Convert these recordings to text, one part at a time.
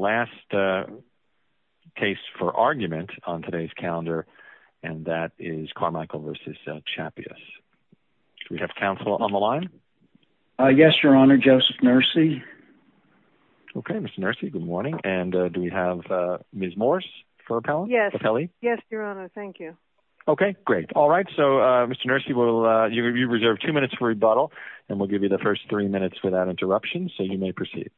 last case for argument on today's calendar, and that is Carmichael v. Chappius. Do we have counsel on the line? Yes, Your Honor, Joseph Nersey. Okay, Mr. Nersey, good morning. And do we have Ms. Morse for appellate? Yes, Your Honor, thank you. Okay, great. All right, so Mr. Nersey, you reserve two minutes for rebuttal, and we'll give you the first three minutes without interruption, so you may proceed.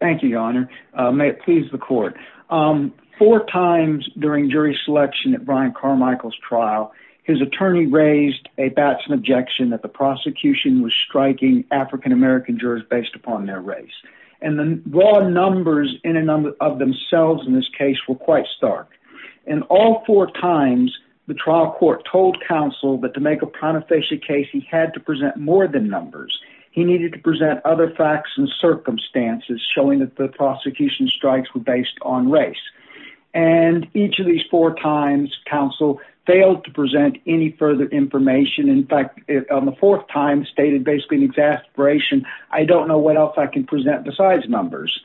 Thank you, Your Honor. May it please the court. Four times during jury selection at Brian Carmichael's trial, his attorney raised a batch of objection that the prosecution was striking African-American jurors based upon their race. And the raw numbers in a number of themselves in this case were quite stark. And all four times, the trial court told counsel that to make a prontofacial case, he had to present more than numbers. He needed to present other facts and circumstances showing that the prosecution strikes were based on race. And each of these four times, counsel failed to present any further information. In fact, on the fourth time, stated basically an exasperation, I don't know what else I can present besides numbers.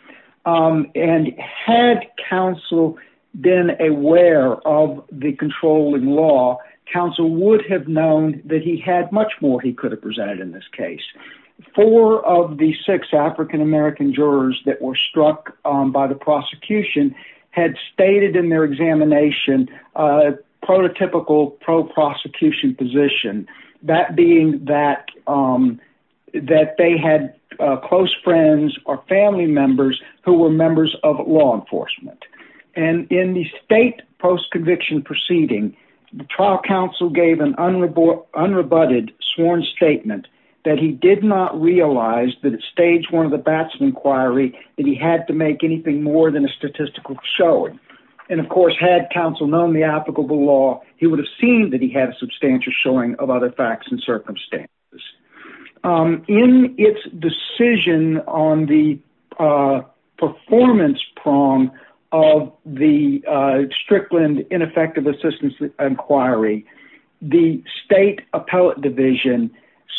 And had counsel been aware of the controlling law, counsel would have known that he had much more he could have presented in this case. Four of the six African-American jurors that were struck by the prosecution had stated in their examination a prototypical pro-prosecution position, that being that they had close friends or family members who were members of law enforcement. And in the state post-conviction proceeding, the trial counsel gave an unrebutted sworn statement that he did not realize that at stage one of the batch of inquiry that he had to make anything more than a statistical showing. And of course, had counsel known the applicable law, he would have seen that he had a substantial showing of other facts and circumstances. In its decision on the performance prong, counsel of the Strickland ineffective assistance inquiry, the state appellate division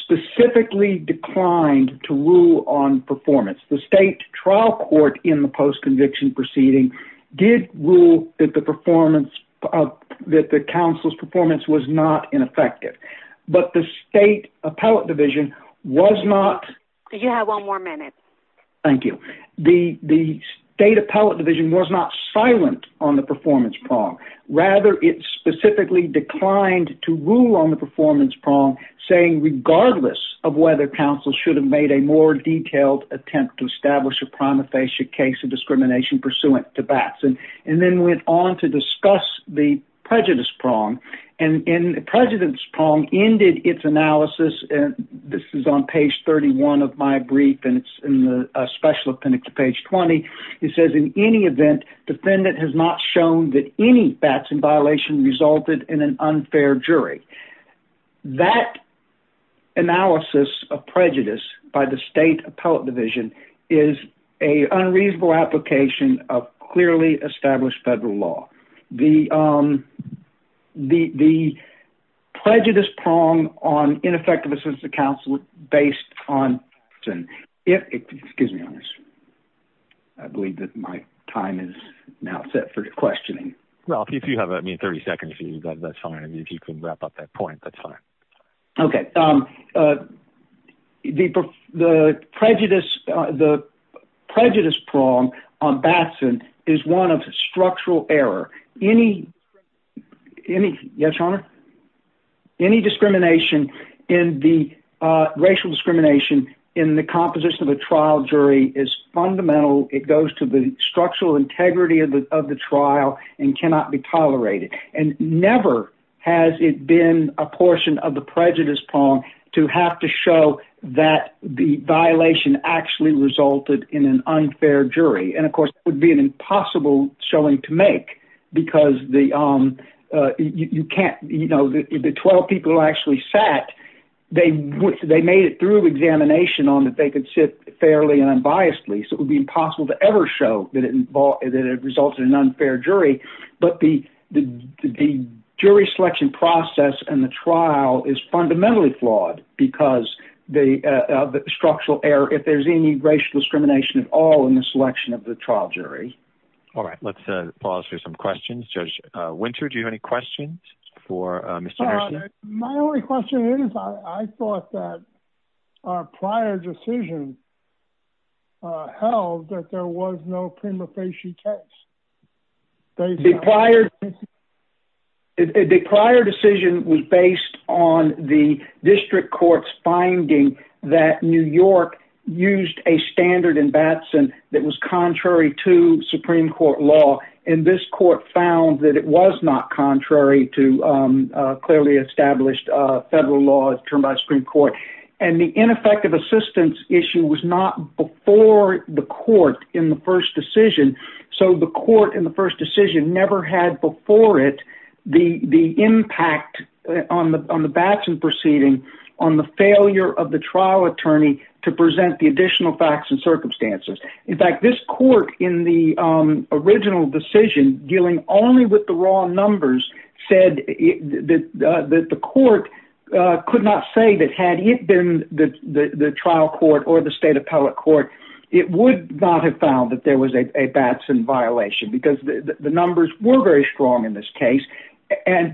specifically declined to rule on performance. The state trial court in the post-conviction proceeding did rule that the performance, that the counsel's performance was not ineffective. But the state appellate division was not. You have one more minute. Thank you. The state appellate division was not silent on the performance prong. Rather, it specifically declined to rule on the performance prong, saying regardless of whether counsel should have made a more detailed attempt to establish a prima facie case of discrimination pursuant to BATS. And then went on to discuss the prejudice prong. And the prejudice prong ended its analysis. This is on page 31 of my brief. And it's in the special appendix to page 20. It says in any event, defendant has not shown that any BATS in violation resulted in an unfair jury. That analysis of prejudice by the state appellate division is an unreasonable application of clearly established federal law. The prejudice prong, the appellate division on ineffective assistance to counsel based on excuse me, I believe my time is now set for questioning. If you have 30 seconds, that's fine. If you can wrap up that point, that's fine. Okay. The prejudice prong on BATS is one of structural error. Any discrimination in the racial discrimination in the composition of a trial jury is fundamental. It goes to the structural integrity of the trial and cannot be tolerated. And never has it been a portion of the prejudice prong to have to show that the violation actually resulted in an unfair jury. And of course, it would be an impossible showing to make because the 12 people actually sat, they made it through examination on that they could sit fairly and unbiasedly. So it would be impossible to ever show that it resulted in an unfair jury. But the jury selection process and the trial is fundamentally flawed because the structural error, if there's any racial discrimination at all in the selection of the trial jury. All right. Let's pause for some questions. Judge Winter, do you have any questions for Mr. Hershey? My only question is I thought that our prior decision held that there was no prima facie case. The prior decision was based on the district court's finding that New York used a standard in Batson that was contrary to Supreme Court law. And this court found that it was not contrary to clearly established federal law as termed by the Supreme Court. And the ineffective assistance issue was not before the court in the first decision. So the court in the first decision never had before it the impact on the Batson proceeding on the failure of the trial attorney to present the additional facts and circumstances. In fact, this court in the original decision dealing only with the raw numbers said that the court could not say that had it been the trial court or the state appellate court, it would not have found that there was a Batson violation because the numbers were very strong in this case.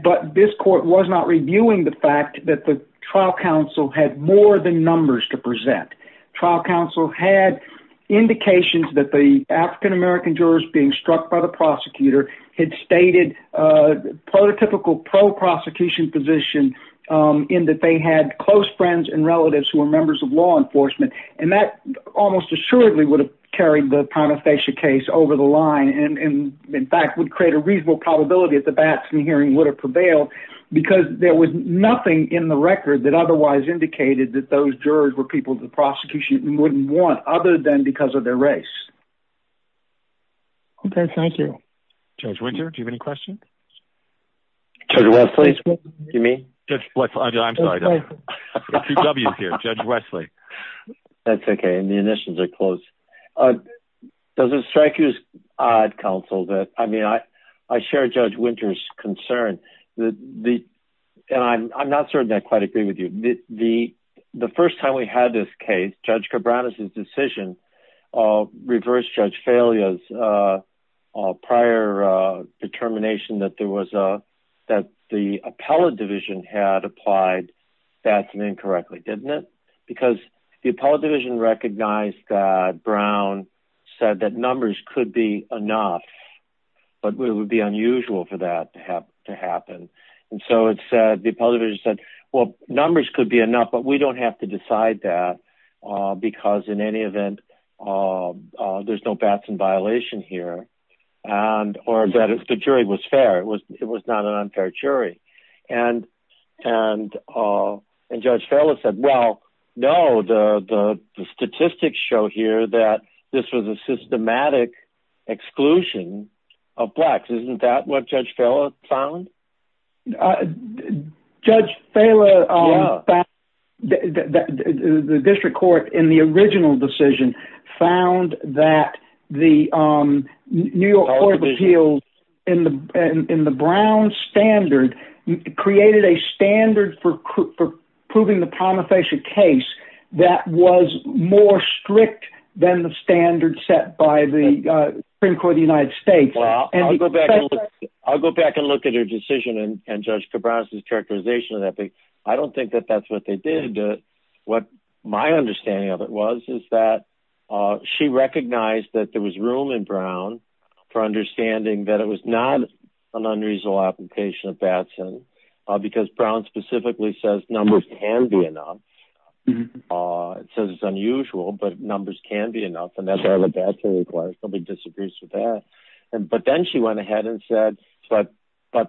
But this court was not reviewing the fact that the trial counsel had more than numbers to present. Trial counsel had indications that the African-American jurors being struck by the prosecutor had stated prototypical pro-prosecution position in that they had close friends and relatives who were members of law enforcement. And that almost assuredly would have carried the prima facie case over the line and in fact would create a reasonable probability that the Batson hearing would have prevailed because there was nothing in the record that otherwise indicated that those jurors were people the prosecution wouldn't want other than because of their race. Okay, thank you. Judge Winter, do you have any questions? Judge Wesley, do you mean? I'm sorry, Judge Wesley. That's okay, the emissions are close. Does it strike you as odd, counsel, that I mean as far as Judge Winter's concern, and I'm not certain I quite agree with you, the first time we had this case, Judge Cabranes' decision of reverse judge failures, prior determination that there was a, that the appellate division had applied Batson incorrectly, didn't it? Because the appellate division recognized that Brown said that numbers could be enough, but it would be unusual for that to happen. And so it said, the appellate division said, well, numbers could be enough, but we don't have to decide that because in any event, there's no Batson violation here, or that the jury was fair. It was not an unfair jury. And Judge Farrell said, well, no, the statistics show here that this was a systematic exclusion of blacks. Isn't that what Judge Farrell found? Judge Farrell, the district court in the original decision found that the New York Court of Appeals in the Brown standard created a standard for proving the promulgation case that was more strict than the standard set by the Supreme Court of the United States. I'll go back and look at her decision and Judge Cabranes' characterization of that. I don't think that that's what they did. What my understanding of it was, is that she recognized that there was room in Brown for understanding that it was not an unreasonable application of Batson, because Brown specifically says numbers can be enough. It says it's unusual, but numbers can be enough. And that's why the Batson requires, somebody disagrees with that. But then she went ahead and said, but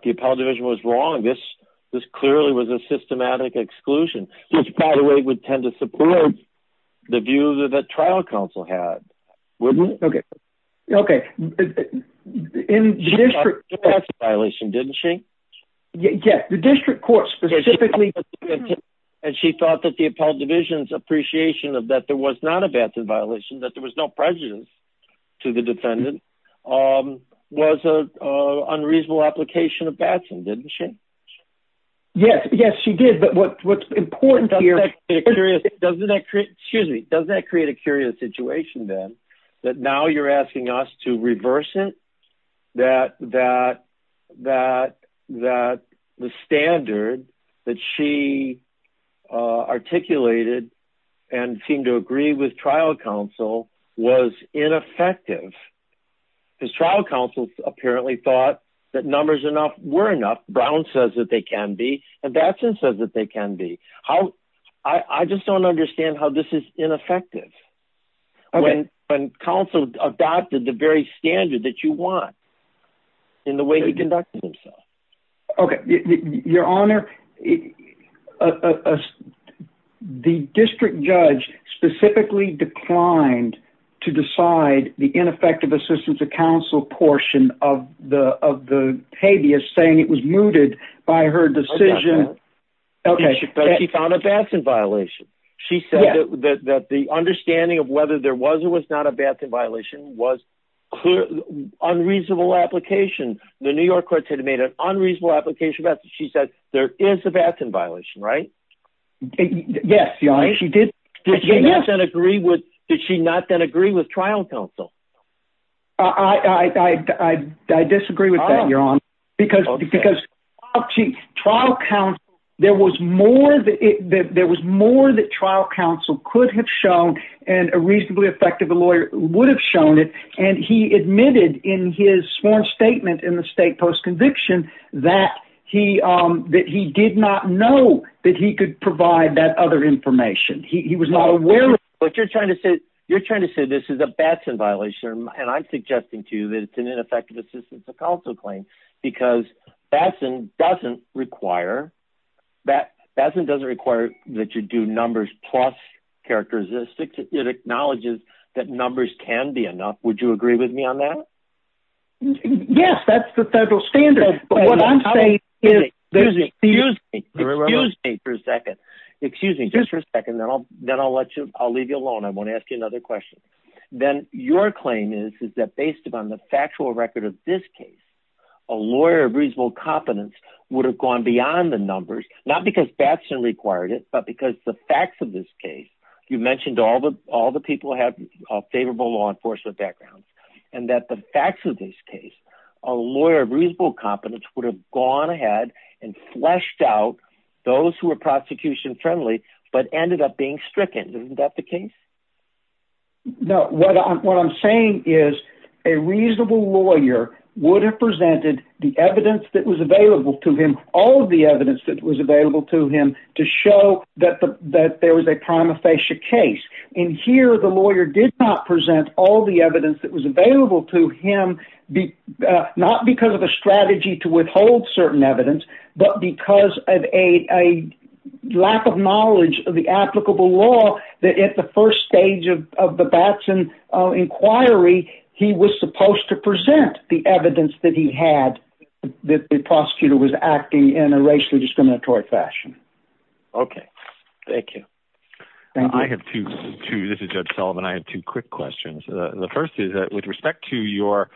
the appellate division was wrong. This clearly was a systematic exclusion, which by the way, would tend to support the views of the trial council had. Wouldn't it? Okay. Okay. In the district court. The Batson violation, didn't she? Yes, the district court specifically. And she thought that the appellate division's appreciation of that there was not a Batson violation, that there was no prejudice to the defendant, was an unreasonable application of Batson, didn't she? Yes, yes, she did. But what's important here. Excuse me. Doesn't that create a curious situation then, that now you're asking us to reverse it? That, that, that, that the standard that she articulated and seemed to agree with trial council was ineffective. His trial council apparently thought that numbers enough were enough. Brown says that they can be, and Batson says that they can be. How, I just don't understand how this is ineffective. When, when counsel adopted the very standard that you want in the way he conducted himself. Okay. Your honor, the district judge specifically declined to decide the ineffective assistance to counsel portion of the, of the habeas saying it was mooted by her decision. Okay. She found a Batson violation. She said that the understanding of whether there was or was not a Batson violation was unreasonable application. The New York courts had made an unreasonable application, but she said there is a Batson violation, right? Yes, your honor, she did. Did she not then agree with, did she not then agree with trial council? I, I, I, I, I disagree with that your honor, because, because trial council, there was more, there was more that trial council could have shown and a reasonably effective lawyer would have shown it. And he admitted in his sworn statement in the state post conviction that he, um, that he did not know that he could provide that other information. He was not aware of what you're trying to say. You're trying to say this is a Batson violation. And I'm suggesting to you that it's an ineffective assistance to counsel claim because Batson doesn't require that Batson doesn't require that you do numbers plus characteristics. It acknowledges that numbers can be enough. Would you agree with me on that? Yes, that's the federal standard. Excuse me for a second. Excuse me just for a second. Then I'll, then I'll let you, I'll leave you alone. I want to ask you another question. Then your claim is, is that based upon the factual record of this case, a lawyer of reasonable competence would have gone beyond the numbers, not because Batson required it, but because the facts of this case, you mentioned all the, all the people have a favorable law enforcement background and that the facts of this case, a lawyer of reasonable competence would have gone ahead and fleshed out those who are prosecution friendly, but ended up being stricken. Isn't that the case? No, what I'm, what I'm saying is a reasonable lawyer would have presented the evidence that was available to him. All of the evidence that was available to him to show that the, that there was a prima facie case in here. The lawyer did not present all the evidence that was available to him, not because of a strategy to withhold certain evidence, but because of a lack of knowledge of the applicable law that at the first stage of the Batson inquiry, he was supposed to present the evidence that he had, that the prosecutor was acting in a racially discriminatory fashion. Okay. Thank you. I have two, two, this is judge Solomon. I have two quick questions. The first is that with respect to your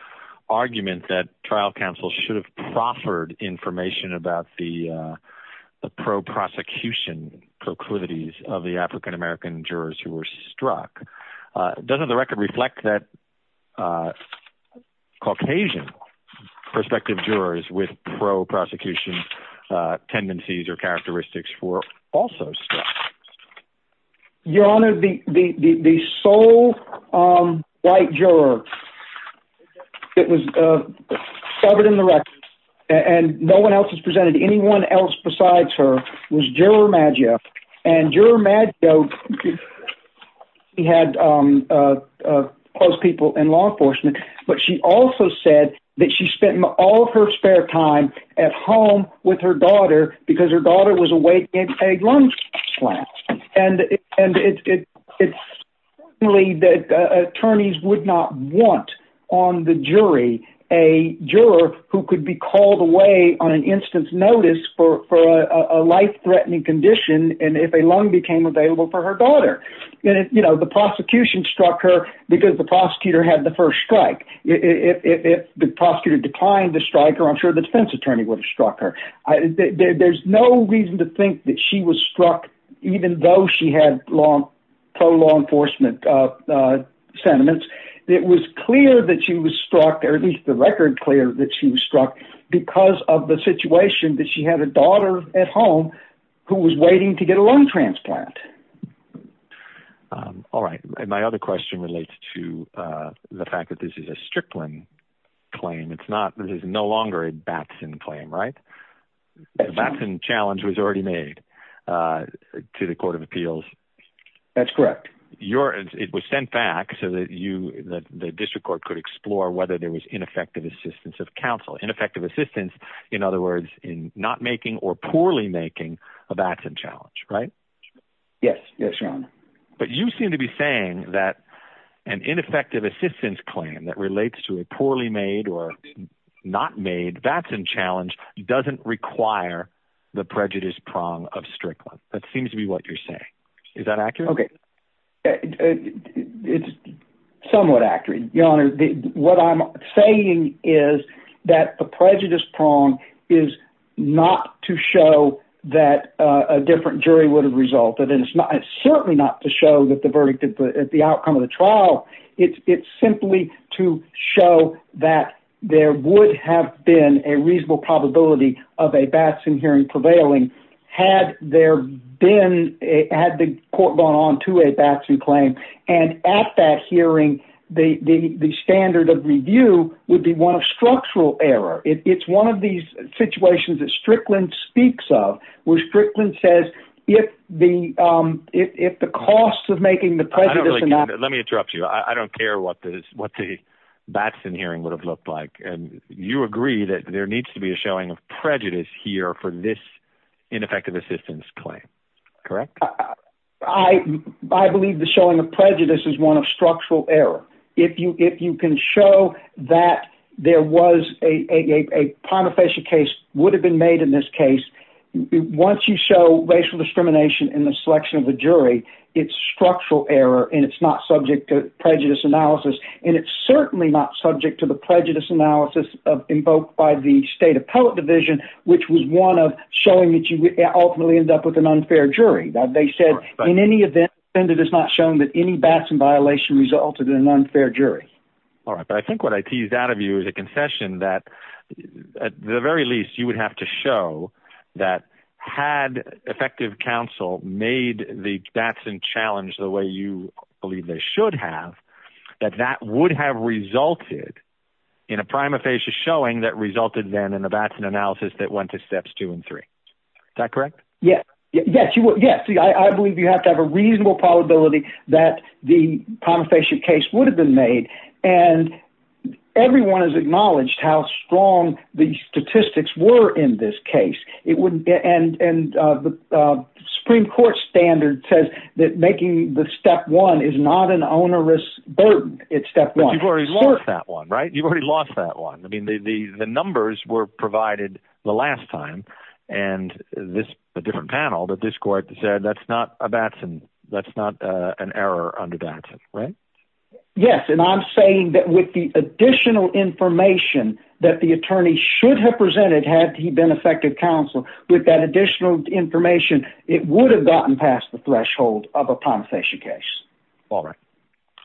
argument that trial counsel should have proffered information about the pro prosecution proclivities of the African American jurors who were struck, doesn't the the sole white juror that was covered in the record and no one else has presented anyone else besides her was juror Maggio and juror Maggio. He had close people in law enforcement, but she also said that she spent all of her spare time at home with her daughter because her daughter was a way to get a lung slashed. And it's only that attorneys would not want on the jury, a juror who could be called away on an instance notice for a life threatening condition. And if a lung became available for her daughter, you know, the prosecution struck her because the prosecutor had the first strike. If the prosecutor declined to strike her, I'm sure the defense attorney would have struck her. There's no reason to think that she was struck, even though she had long pro law enforcement sentiments. It was clear that she was struck, or at least the record clear that she was struck because of the situation that she had a daughter at home who was waiting to get a lung transplant. All right. And my other question relates to the fact that this is a stripling claim. It's not, this is no longer a Batson claim, right? Batson challenge was already made to the court of appeals. That's correct. Your, it was sent back so that you, the district court could explore whether there was ineffective assistance of counsel, ineffective assistance. In other words, in not making or poorly making a Batson challenge, right? Yes. Yes, your honor. But you seem to be saying that an ineffective assistance claim that relates to a poorly made or not made Batson challenge doesn't require the prejudice prong of Strickland. That seems to be what you're saying. Is that accurate? Okay. It's somewhat accurate. Your honor, what I'm saying is that the prejudice prong is not to show that a different jury would have resulted in. It's not, it's certainly not to show that the verdict at the outcome of the trial, it's simply to show that there would have been a reasonable probability of a Batson hearing prevailing had there been a, had the court gone on to a Batson claim. And at that hearing, the, the, the standard of review would be one of structural error. It's one of these situations that Strickland speaks of where Strickland says, if the, um, if, if the cost of making the prejudice, let me interrupt you. I don't care what the, what the Batson hearing would have looked like. And you agree that there needs to be a showing of prejudice here for this ineffective assistance claim. Correct. I, I believe the showing of prejudice is one of structural error. If you, if you can show that there was a, a, a prima facie case would have been made in this case. Once you show racial discrimination in the selection of the jury, it's structural error and it's not subject to prejudice analysis. And it's certainly not subject to the prejudice analysis of invoked by the state appellate division, which was one of showing that you ultimately ended up with an unfair jury that they said in any event, it is not shown that any Batson violation resulted in an unfair jury. All right. But I think what I teased out of you is a concession that at the very least you would have to show that had effective counsel made the Batson challenge the way you believe they should have, that that would have resulted in a prima facie showing that resulted then in the Batson analysis that went to steps two and three. Is that correct? Yes. Yes, you will. Yes. See, I believe you have to have a reasonable probability that the prima facie case would have been made. And everyone has acknowledged how strong the statistics were in this case. It wouldn't get, and, and the Supreme court standard says that making the step one is not an onerous burden. It's step one. You've already lost that one, right? You've already lost that one. I mean, the, the numbers were provided the last time and this, a different panel, but this court said that's not a Batson. That's not a, an error on the Batson, right? Yes. And I'm saying that with the additional information that the attorney should have presented, had he been effective counsel with that additional information, it would have gotten past the threshold of a prima facie case. All right.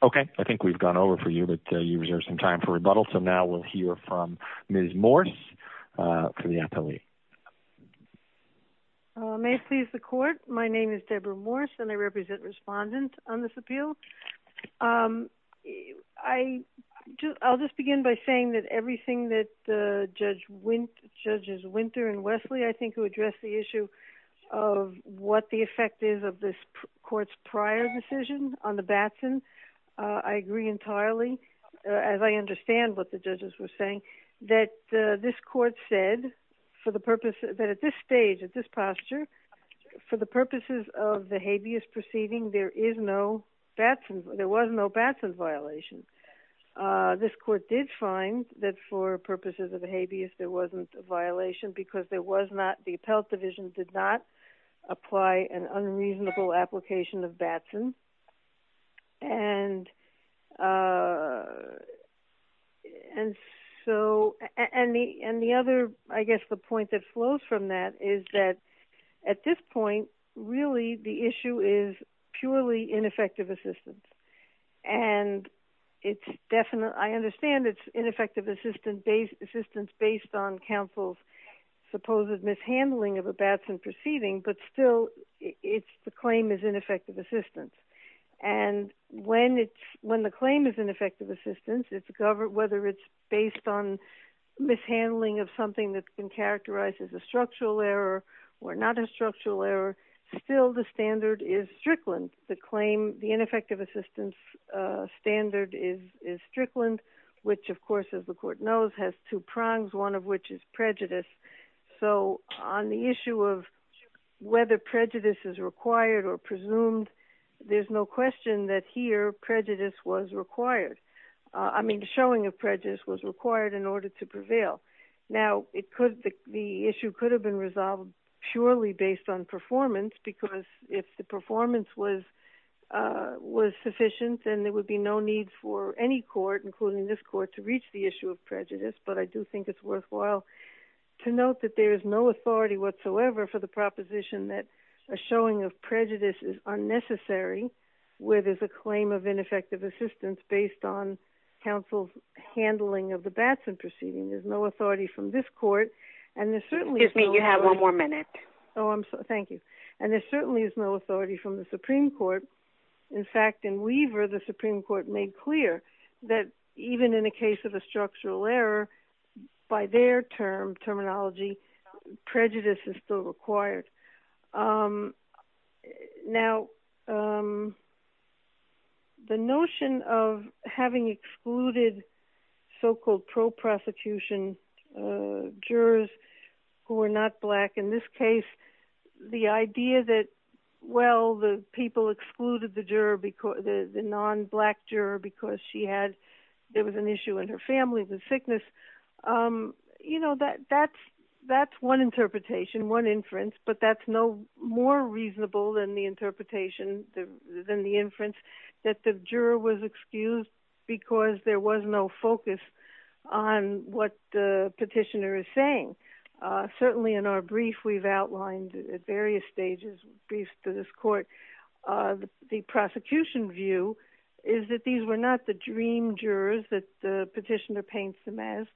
Okay. I think we've gone over for you, but I know you reserved some time for rebuttal. So now we'll hear from Ms. Morris for the appellee. May it please the court. My name is Deborah Morris and I represent respondent on this appeal. I just, I'll just begin by saying that everything that the judge went judges, winter and Wesley, I think who addressed the issue of what the effect is of this court's prior decision on the Batson. I agree entirely as I understand what the judges were saying that this court said for the purpose that at this stage, at this posture, for the purposes of the habeas proceeding, there is no Batson. There was no Batson violation. This court did find that for purposes of the habeas, there wasn't a violation because there was not, the appellate division did not apply an unreasonable application of Batson. And so, and the, and the other, I guess the point that flows from that is that at this point, really the issue is purely ineffective assistance. And it's definitely, I understand it's ineffective assistance based, assistance based on counsel's supposed mishandling of a Batson proceeding, but still it's the claim is ineffective assistance. And when it's, when the claim is ineffective assistance, it's a government, whether it's based on mishandling of something that's been characterized as a structural error or not a structural error, still the standard is claim the ineffective assistance standard is, is Strickland, which of course, as the court knows, has two prongs, one of which is prejudice. So on the issue of whether prejudice is required or presumed, there's no question that here prejudice was required. I mean, the showing of prejudice was required in order to prevail. Now it could, the issue could have been resolved purely based on performance, because if the performance was, was sufficient, then there would be no need for any court, including this court to reach the issue of prejudice. But I do think it's worthwhile to note that there is no authority whatsoever for the proposition that a showing of prejudice is unnecessary, where there's a claim of ineffective assistance based on counsel's handling of the Batson proceeding. There's no authority from this court. And there's certainly... Excuse me, you have one more minute. Oh, I'm sorry. Thank you. And there certainly is no authority from the Supreme Court. In fact, in Weaver, the Supreme Court made clear that even in a case of a structural error, by their term, terminology, prejudice is still required. Now, the notion of having excluded so-called pro-prosecution jurors who are not black, in this case, the idea that, well, the people excluded the non-black juror because she had, there was an issue in her family with sickness. That's one interpretation, one inference, but that's no more reasonable than the interpretation, than the inference, that the juror was excused because there was no focus on what the petitioner is saying. Certainly in our brief, we've outlined at various stages, briefs to this court, the prosecution view is that these were not the dream jurors that the petitioner paints them as,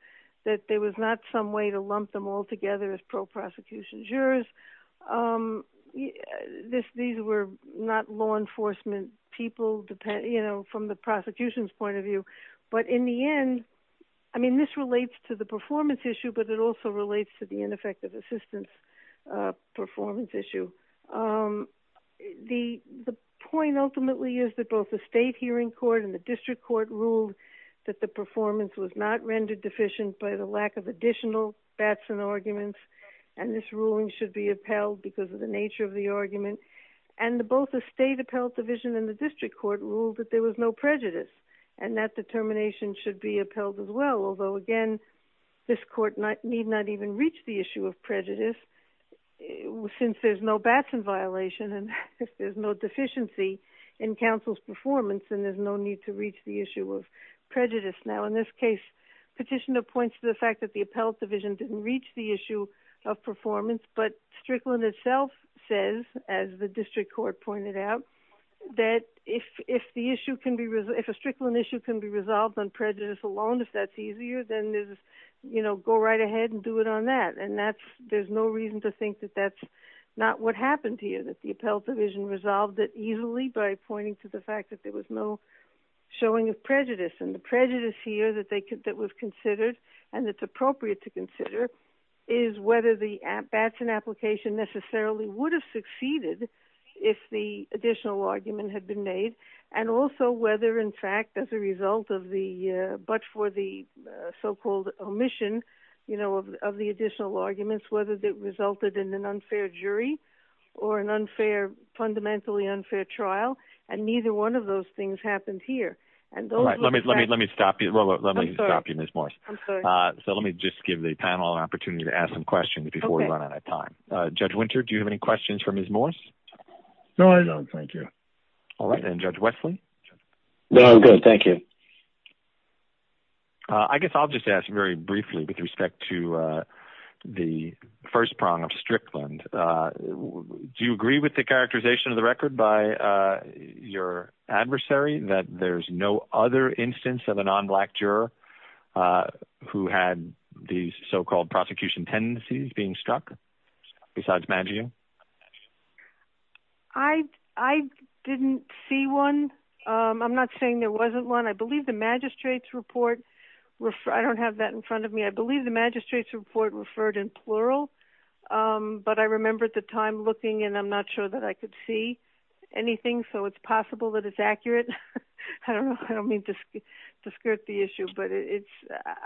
that there was not some way to lump them all together as pro-prosecution jurors. These were not law enforcement people, from the prosecution's point of view. But in the end, I mean, this relates to the performance issue, but it also relates to the ineffective assistance performance issue. The point ultimately is that both the state hearing court and the district court ruled that the performance was not rendered deficient by the lack of additional Batson arguments, and this ruling should be upheld because of the nature of the argument, and both the state appellate division and the district court ruled that there was no prejudice, and that determination should be upheld as well, although again, this court need not even reach the issue of prejudice, since there's no Batson violation, and there's no deficiency in counsel's performance, and there's no need to reach the issue of prejudice. Now, in this case, petitioner points to the fact that the appellate division didn't reach the issue of performance, but Strickland itself says, as the district court pointed out, that if the issue can be, if a Strickland issue can be resolved on prejudice alone, if that's easier, then there's, you know, go right ahead and do it on that, and that's, there's no reason to think that that's not what happened here, that the appellate division resolved it easily by pointing to the fact that there was no showing of prejudice, and the prejudice here that they, that was considered, and that's appropriate to consider, is whether the Batson application necessarily would have succeeded if the additional argument had been made, and also whether, in fact, as a result of the, but for the so-called omission, you know, of the additional arguments, whether that resulted in an unfair jury, or an unfair, fundamentally unfair trial, and neither one of those things happened here, and those... All right. Let me, let me, let me stop you. I'm sorry. Let me stop you, Ms. Morse. I'm sorry. So let me just give the panel an opportunity to ask some questions before we run out of time. Okay. Judge Winter, do you have any questions for Ms. Morse? No, I don't. No, thank you. All right. And Judge Wesley? No, I'm good. Thank you. I guess I'll just ask very briefly with respect to the first prong of Strickland. Do you agree with the characterization of the record by your adversary that there's no other instance of a non-black juror who had these so-called prosecution tendencies being struck besides Maggio? I didn't see one. I'm not saying there wasn't one. I believe the magistrate's report... I don't have that in front of me. I believe the magistrate's report referred in plural, but I remember at the time looking and I'm not sure that I could see anything, so it's possible that it's accurate. I don't know. I don't mean to skirt the issue, but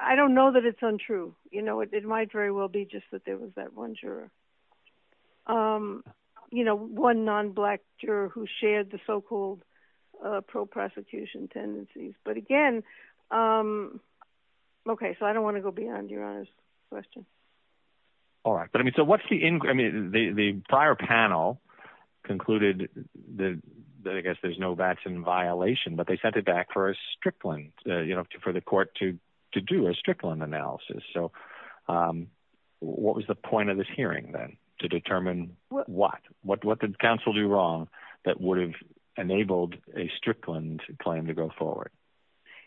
I don't know that it's untrue. It might very well be just that there was that one juror, one non-black juror who shared the so-called pro-prosecution tendencies. But again, okay, so I don't want to go beyond Your Honor's question. All right. But I mean, so what's the... I mean, the prior panel concluded that I guess there's no Batson violation, but they sent it back for a Strickland, for the court to do a Strickland analysis. So what was the point of this hearing then to determine what? What did counsel do wrong that would have enabled a Strickland claim to go forward?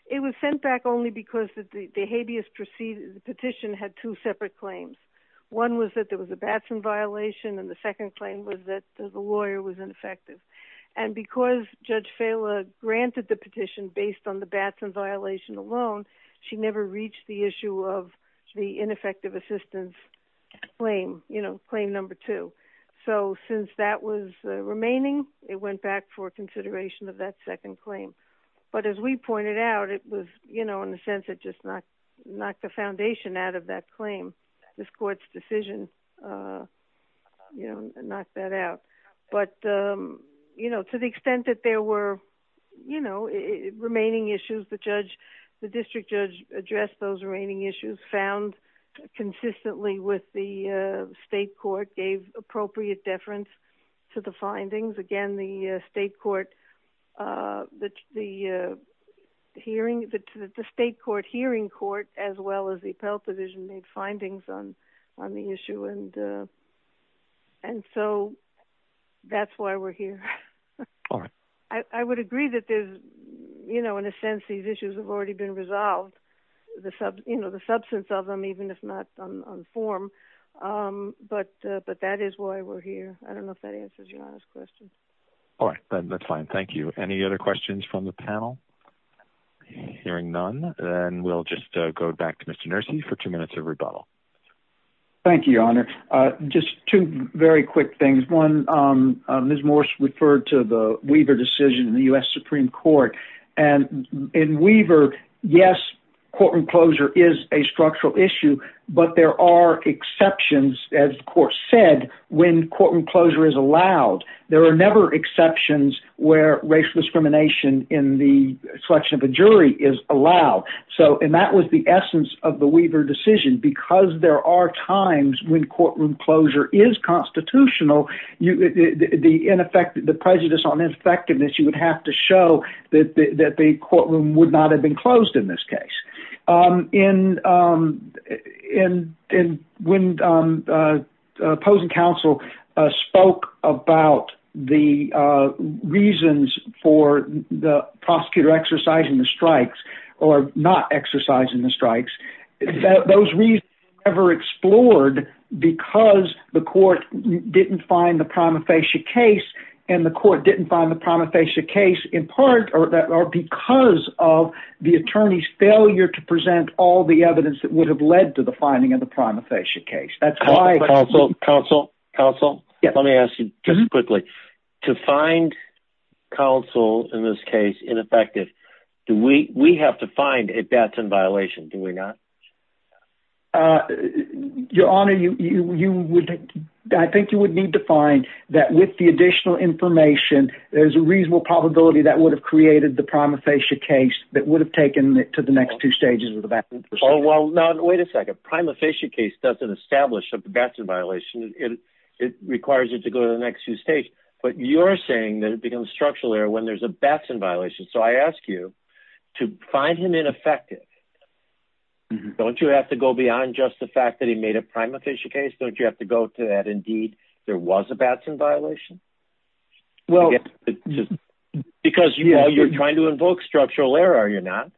It was sent back only because the habeas petition had two separate claims. One was that there was a Batson violation, and the second claim was that the lawyer was ineffective. And because Judge Fela granted the petition based on the Batson violation alone, she never reached the issue of the ineffective assistance claim, claim number two. So since that was remaining, it went back for consideration of that second claim. But as we pointed out, it was, you know, in a sense, it just knocked the foundation out of that claim. This court's decision, you know, knocked that out. But, you know, to the extent that there were, you know, remaining issues, the district judge addressed those remaining issues, found consistently with the state court, gave appropriate deference to the findings. Again, the state court, the hearing, the state court hearing court, as well as the appellate division, made findings on the issue. And so that's why we're here. All right. I would agree that there's, you know, in a sense, these issues have already been resolved. You know, the substance of them, even if not on form. But that is why we're here. I don't know if that answers your honest question. All right. That's fine. Thank you. Any other questions from the panel? Hearing none, then we'll just go back to Mr. Nersey for two minutes of rebuttal. Thank you, Your Honor. Just two very quick things. One, Ms. Morse referred to the Weaver decision in the U.S. Supreme Court. And in Weaver, yes, courtroom closure is a structural issue. But there are exceptions, as the court said, when courtroom closure is allowed. There are never exceptions where racial discrimination in the selection of a jury is allowed. And that was the essence of the Weaver decision. Because there are times when courtroom closure is constitutional, the prejudice on effectiveness, you would have to show that the courtroom would not have been closed in this case. And when opposing counsel spoke about the reasons for the prosecutor exercising the strikes or not exercising the strikes, those reasons were never explored because the court didn't find the prima facie case. And the court didn't find the prima facie case in part or because of the attorney's failure to present all the evidence that would have led to the finding of the prima facie case. Counsel, counsel, counsel, let me ask you just quickly. To find counsel in this case ineffective, we have to find a Batson violation, do we not? Your Honor, I think you would need to find that with the additional information, there's a reasonable probability that would have created the prima facie case that would have taken it to the next two stages of the Batson procedure. Oh, well, now, wait a second. A prima facie case doesn't establish a Batson violation. It requires it to go to the next two stages. But you're saying that it becomes structural error when there's a Batson violation. So I ask you to find him ineffective. Don't you have to go beyond just the fact that he made a prima facie case? Don't you have to go to that indeed there was a Batson violation? Because you're trying to invoke structural error, are you not?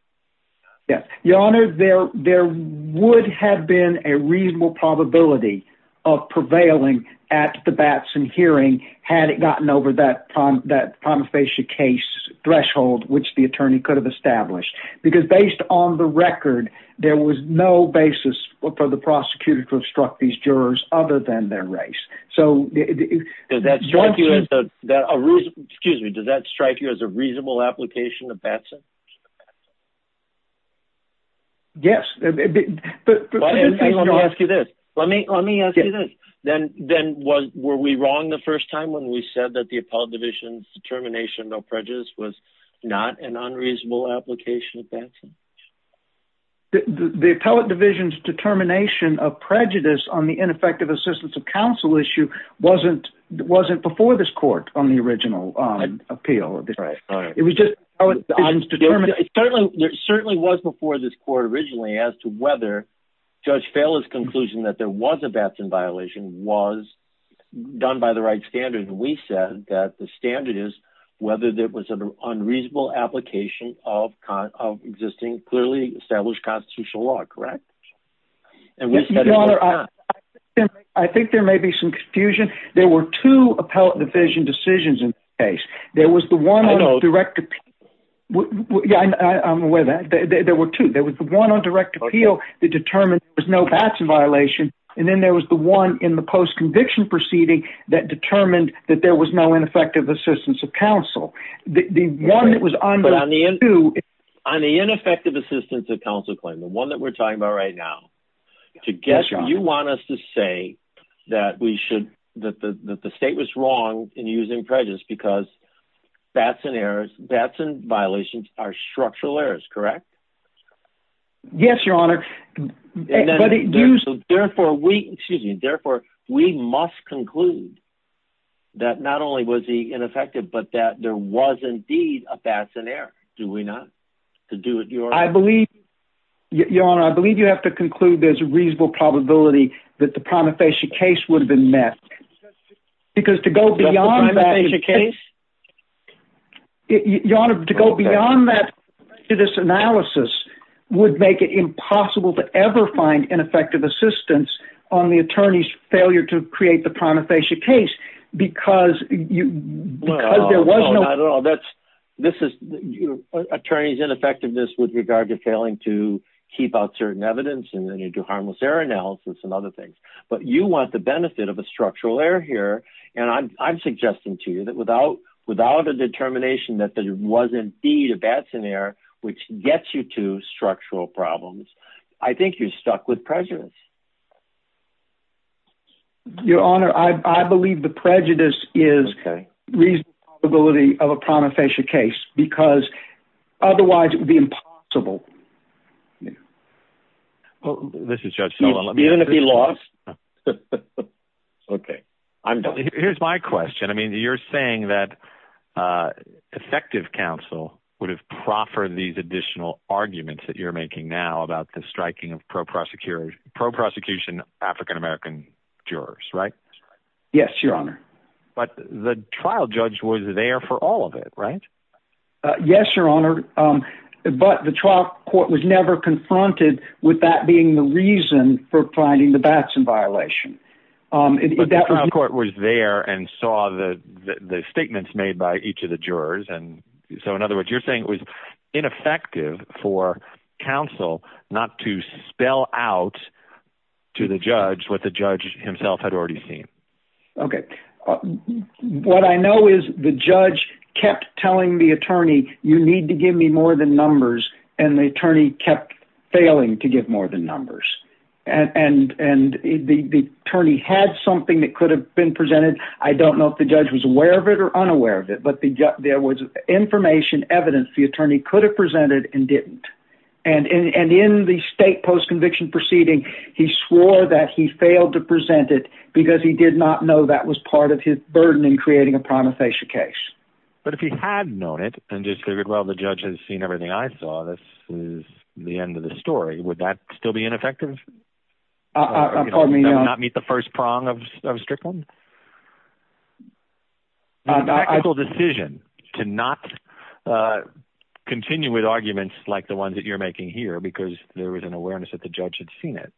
Your Honor, there would have been a reasonable probability of prevailing at the Batson hearing had it gotten over that prima facie case threshold which the attorney could have established. Because based on the record, there was no basis for the prosecutor to have struck these jurors other than their race. Does that strike you as a reasonable application of Batson? Yes. Let me ask you this. Were we wrong the first time when we said that the appellate division's determination of prejudice was not an unreasonable application of Batson? The appellate division's determination of prejudice on the ineffective assistance of counsel issue wasn't before this court on the original appeal. It was just the appellate division's determination. It certainly was before this court originally as to whether Judge Fela's conclusion that there was a Batson violation was done by the right standard. We said that the standard is whether there was an unreasonable application of clearly established constitutional law. Correct? Your Honor, I think there may be some confusion. There were two appellate division decisions in this case. There was the one on direct appeal. I'm aware of that. There were two. There was the one on direct appeal that determined there was no Batson violation. Then there was the one in the post-conviction proceeding that determined that there was no ineffective assistance of counsel. The one that was on the two... On the ineffective assistance of counsel claim, the one that we're talking about right now, you want us to say that the state was wrong in using prejudice because Batson violations are structural errors. Correct? Yes, Your Honor. Therefore, we must conclude that not only was he ineffective, but that there was indeed a Batson error. Do we not? Your Honor, I believe you have to conclude there's a reasonable probability that the prima facie case would have been met. Because to go beyond that... The prima facie case? It's impossible to ever find ineffective assistance on the attorney's failure to create the prima facie case because there was no... No, not at all. This is attorney's ineffectiveness with regard to failing to keep out certain evidence and then you do harmless error analysis and other things. But you want the benefit of a structural error here. And I'm suggesting to you that without a determination that there was indeed a Batson error, which gets you to structural problems, I think you're stuck with prejudice. Your Honor, I believe the prejudice is reasonable probability of a prima facie case because otherwise it would be impossible. This is Judge Sullivan. Even if he lost? Okay. I'm done. Here's my question. I mean, you're saying that effective counsel would have proffered these additional arguments that you're making now about the striking of pro-prosecution African-American jurors, right? Yes, Your Honor. But the trial judge was there for all of it, right? Yes, Your Honor. But the trial court was never confronted with that being the reason for finding the Batson violation. But the trial court was there and saw the statements made by each of the jurors. So in other words, you're saying it was ineffective for counsel not to spell out to the judge what the judge himself had already seen. Okay. What I know is the judge kept telling the attorney, you need to give me more than numbers, and the attorney kept failing to give more than numbers. And the attorney had something that could have been presented. I don't know if the judge was aware of it or unaware of it, but there was information, evidence the attorney could have presented and didn't. And in the state post-conviction proceeding, he swore that he failed to present it because he did not know that was part of his burden in creating a prima facie case. But if he had known it and just figured, well, the judge has seen everything I saw, this is the end of the story, would that still be ineffective? Pardon me, Your Honor? Not meet the first prong of Strickland? A tactical decision to not continue with arguments like the ones that you're making here because there was an awareness that the judge had seen it.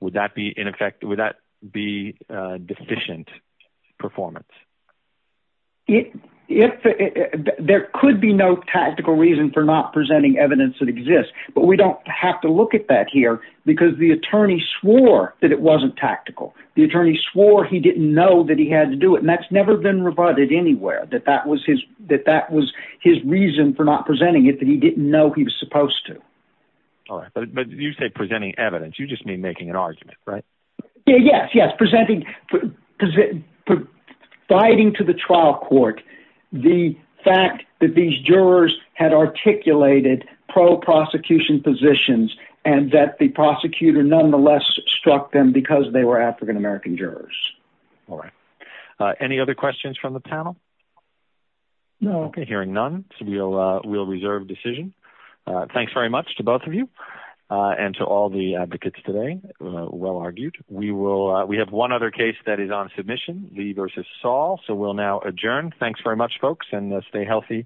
Would that be deficient performance? There could be no tactical reason for not presenting evidence that exists, but we don't have to look at that here because the attorney swore that it wasn't tactical. The attorney swore he didn't know that he had to do it, and that's never been rebutted anywhere, that that was his reason for not presenting it, that he didn't know he was supposed to. All right, but you say presenting evidence. You just mean making an argument, right? Yes, presenting, providing to the trial court the fact that these jurors had articulated pro-prosecution positions and that the prosecutor nonetheless struck them because they were African American jurors. All right. Any other questions from the panel? No. Okay, hearing none, we'll reserve decision. Thanks very much to both of you and to all the advocates today. Well argued. We have one other case that is on submission, Lee v. Saul, so we'll now adjourn. Thanks very much, folks, and stay healthy.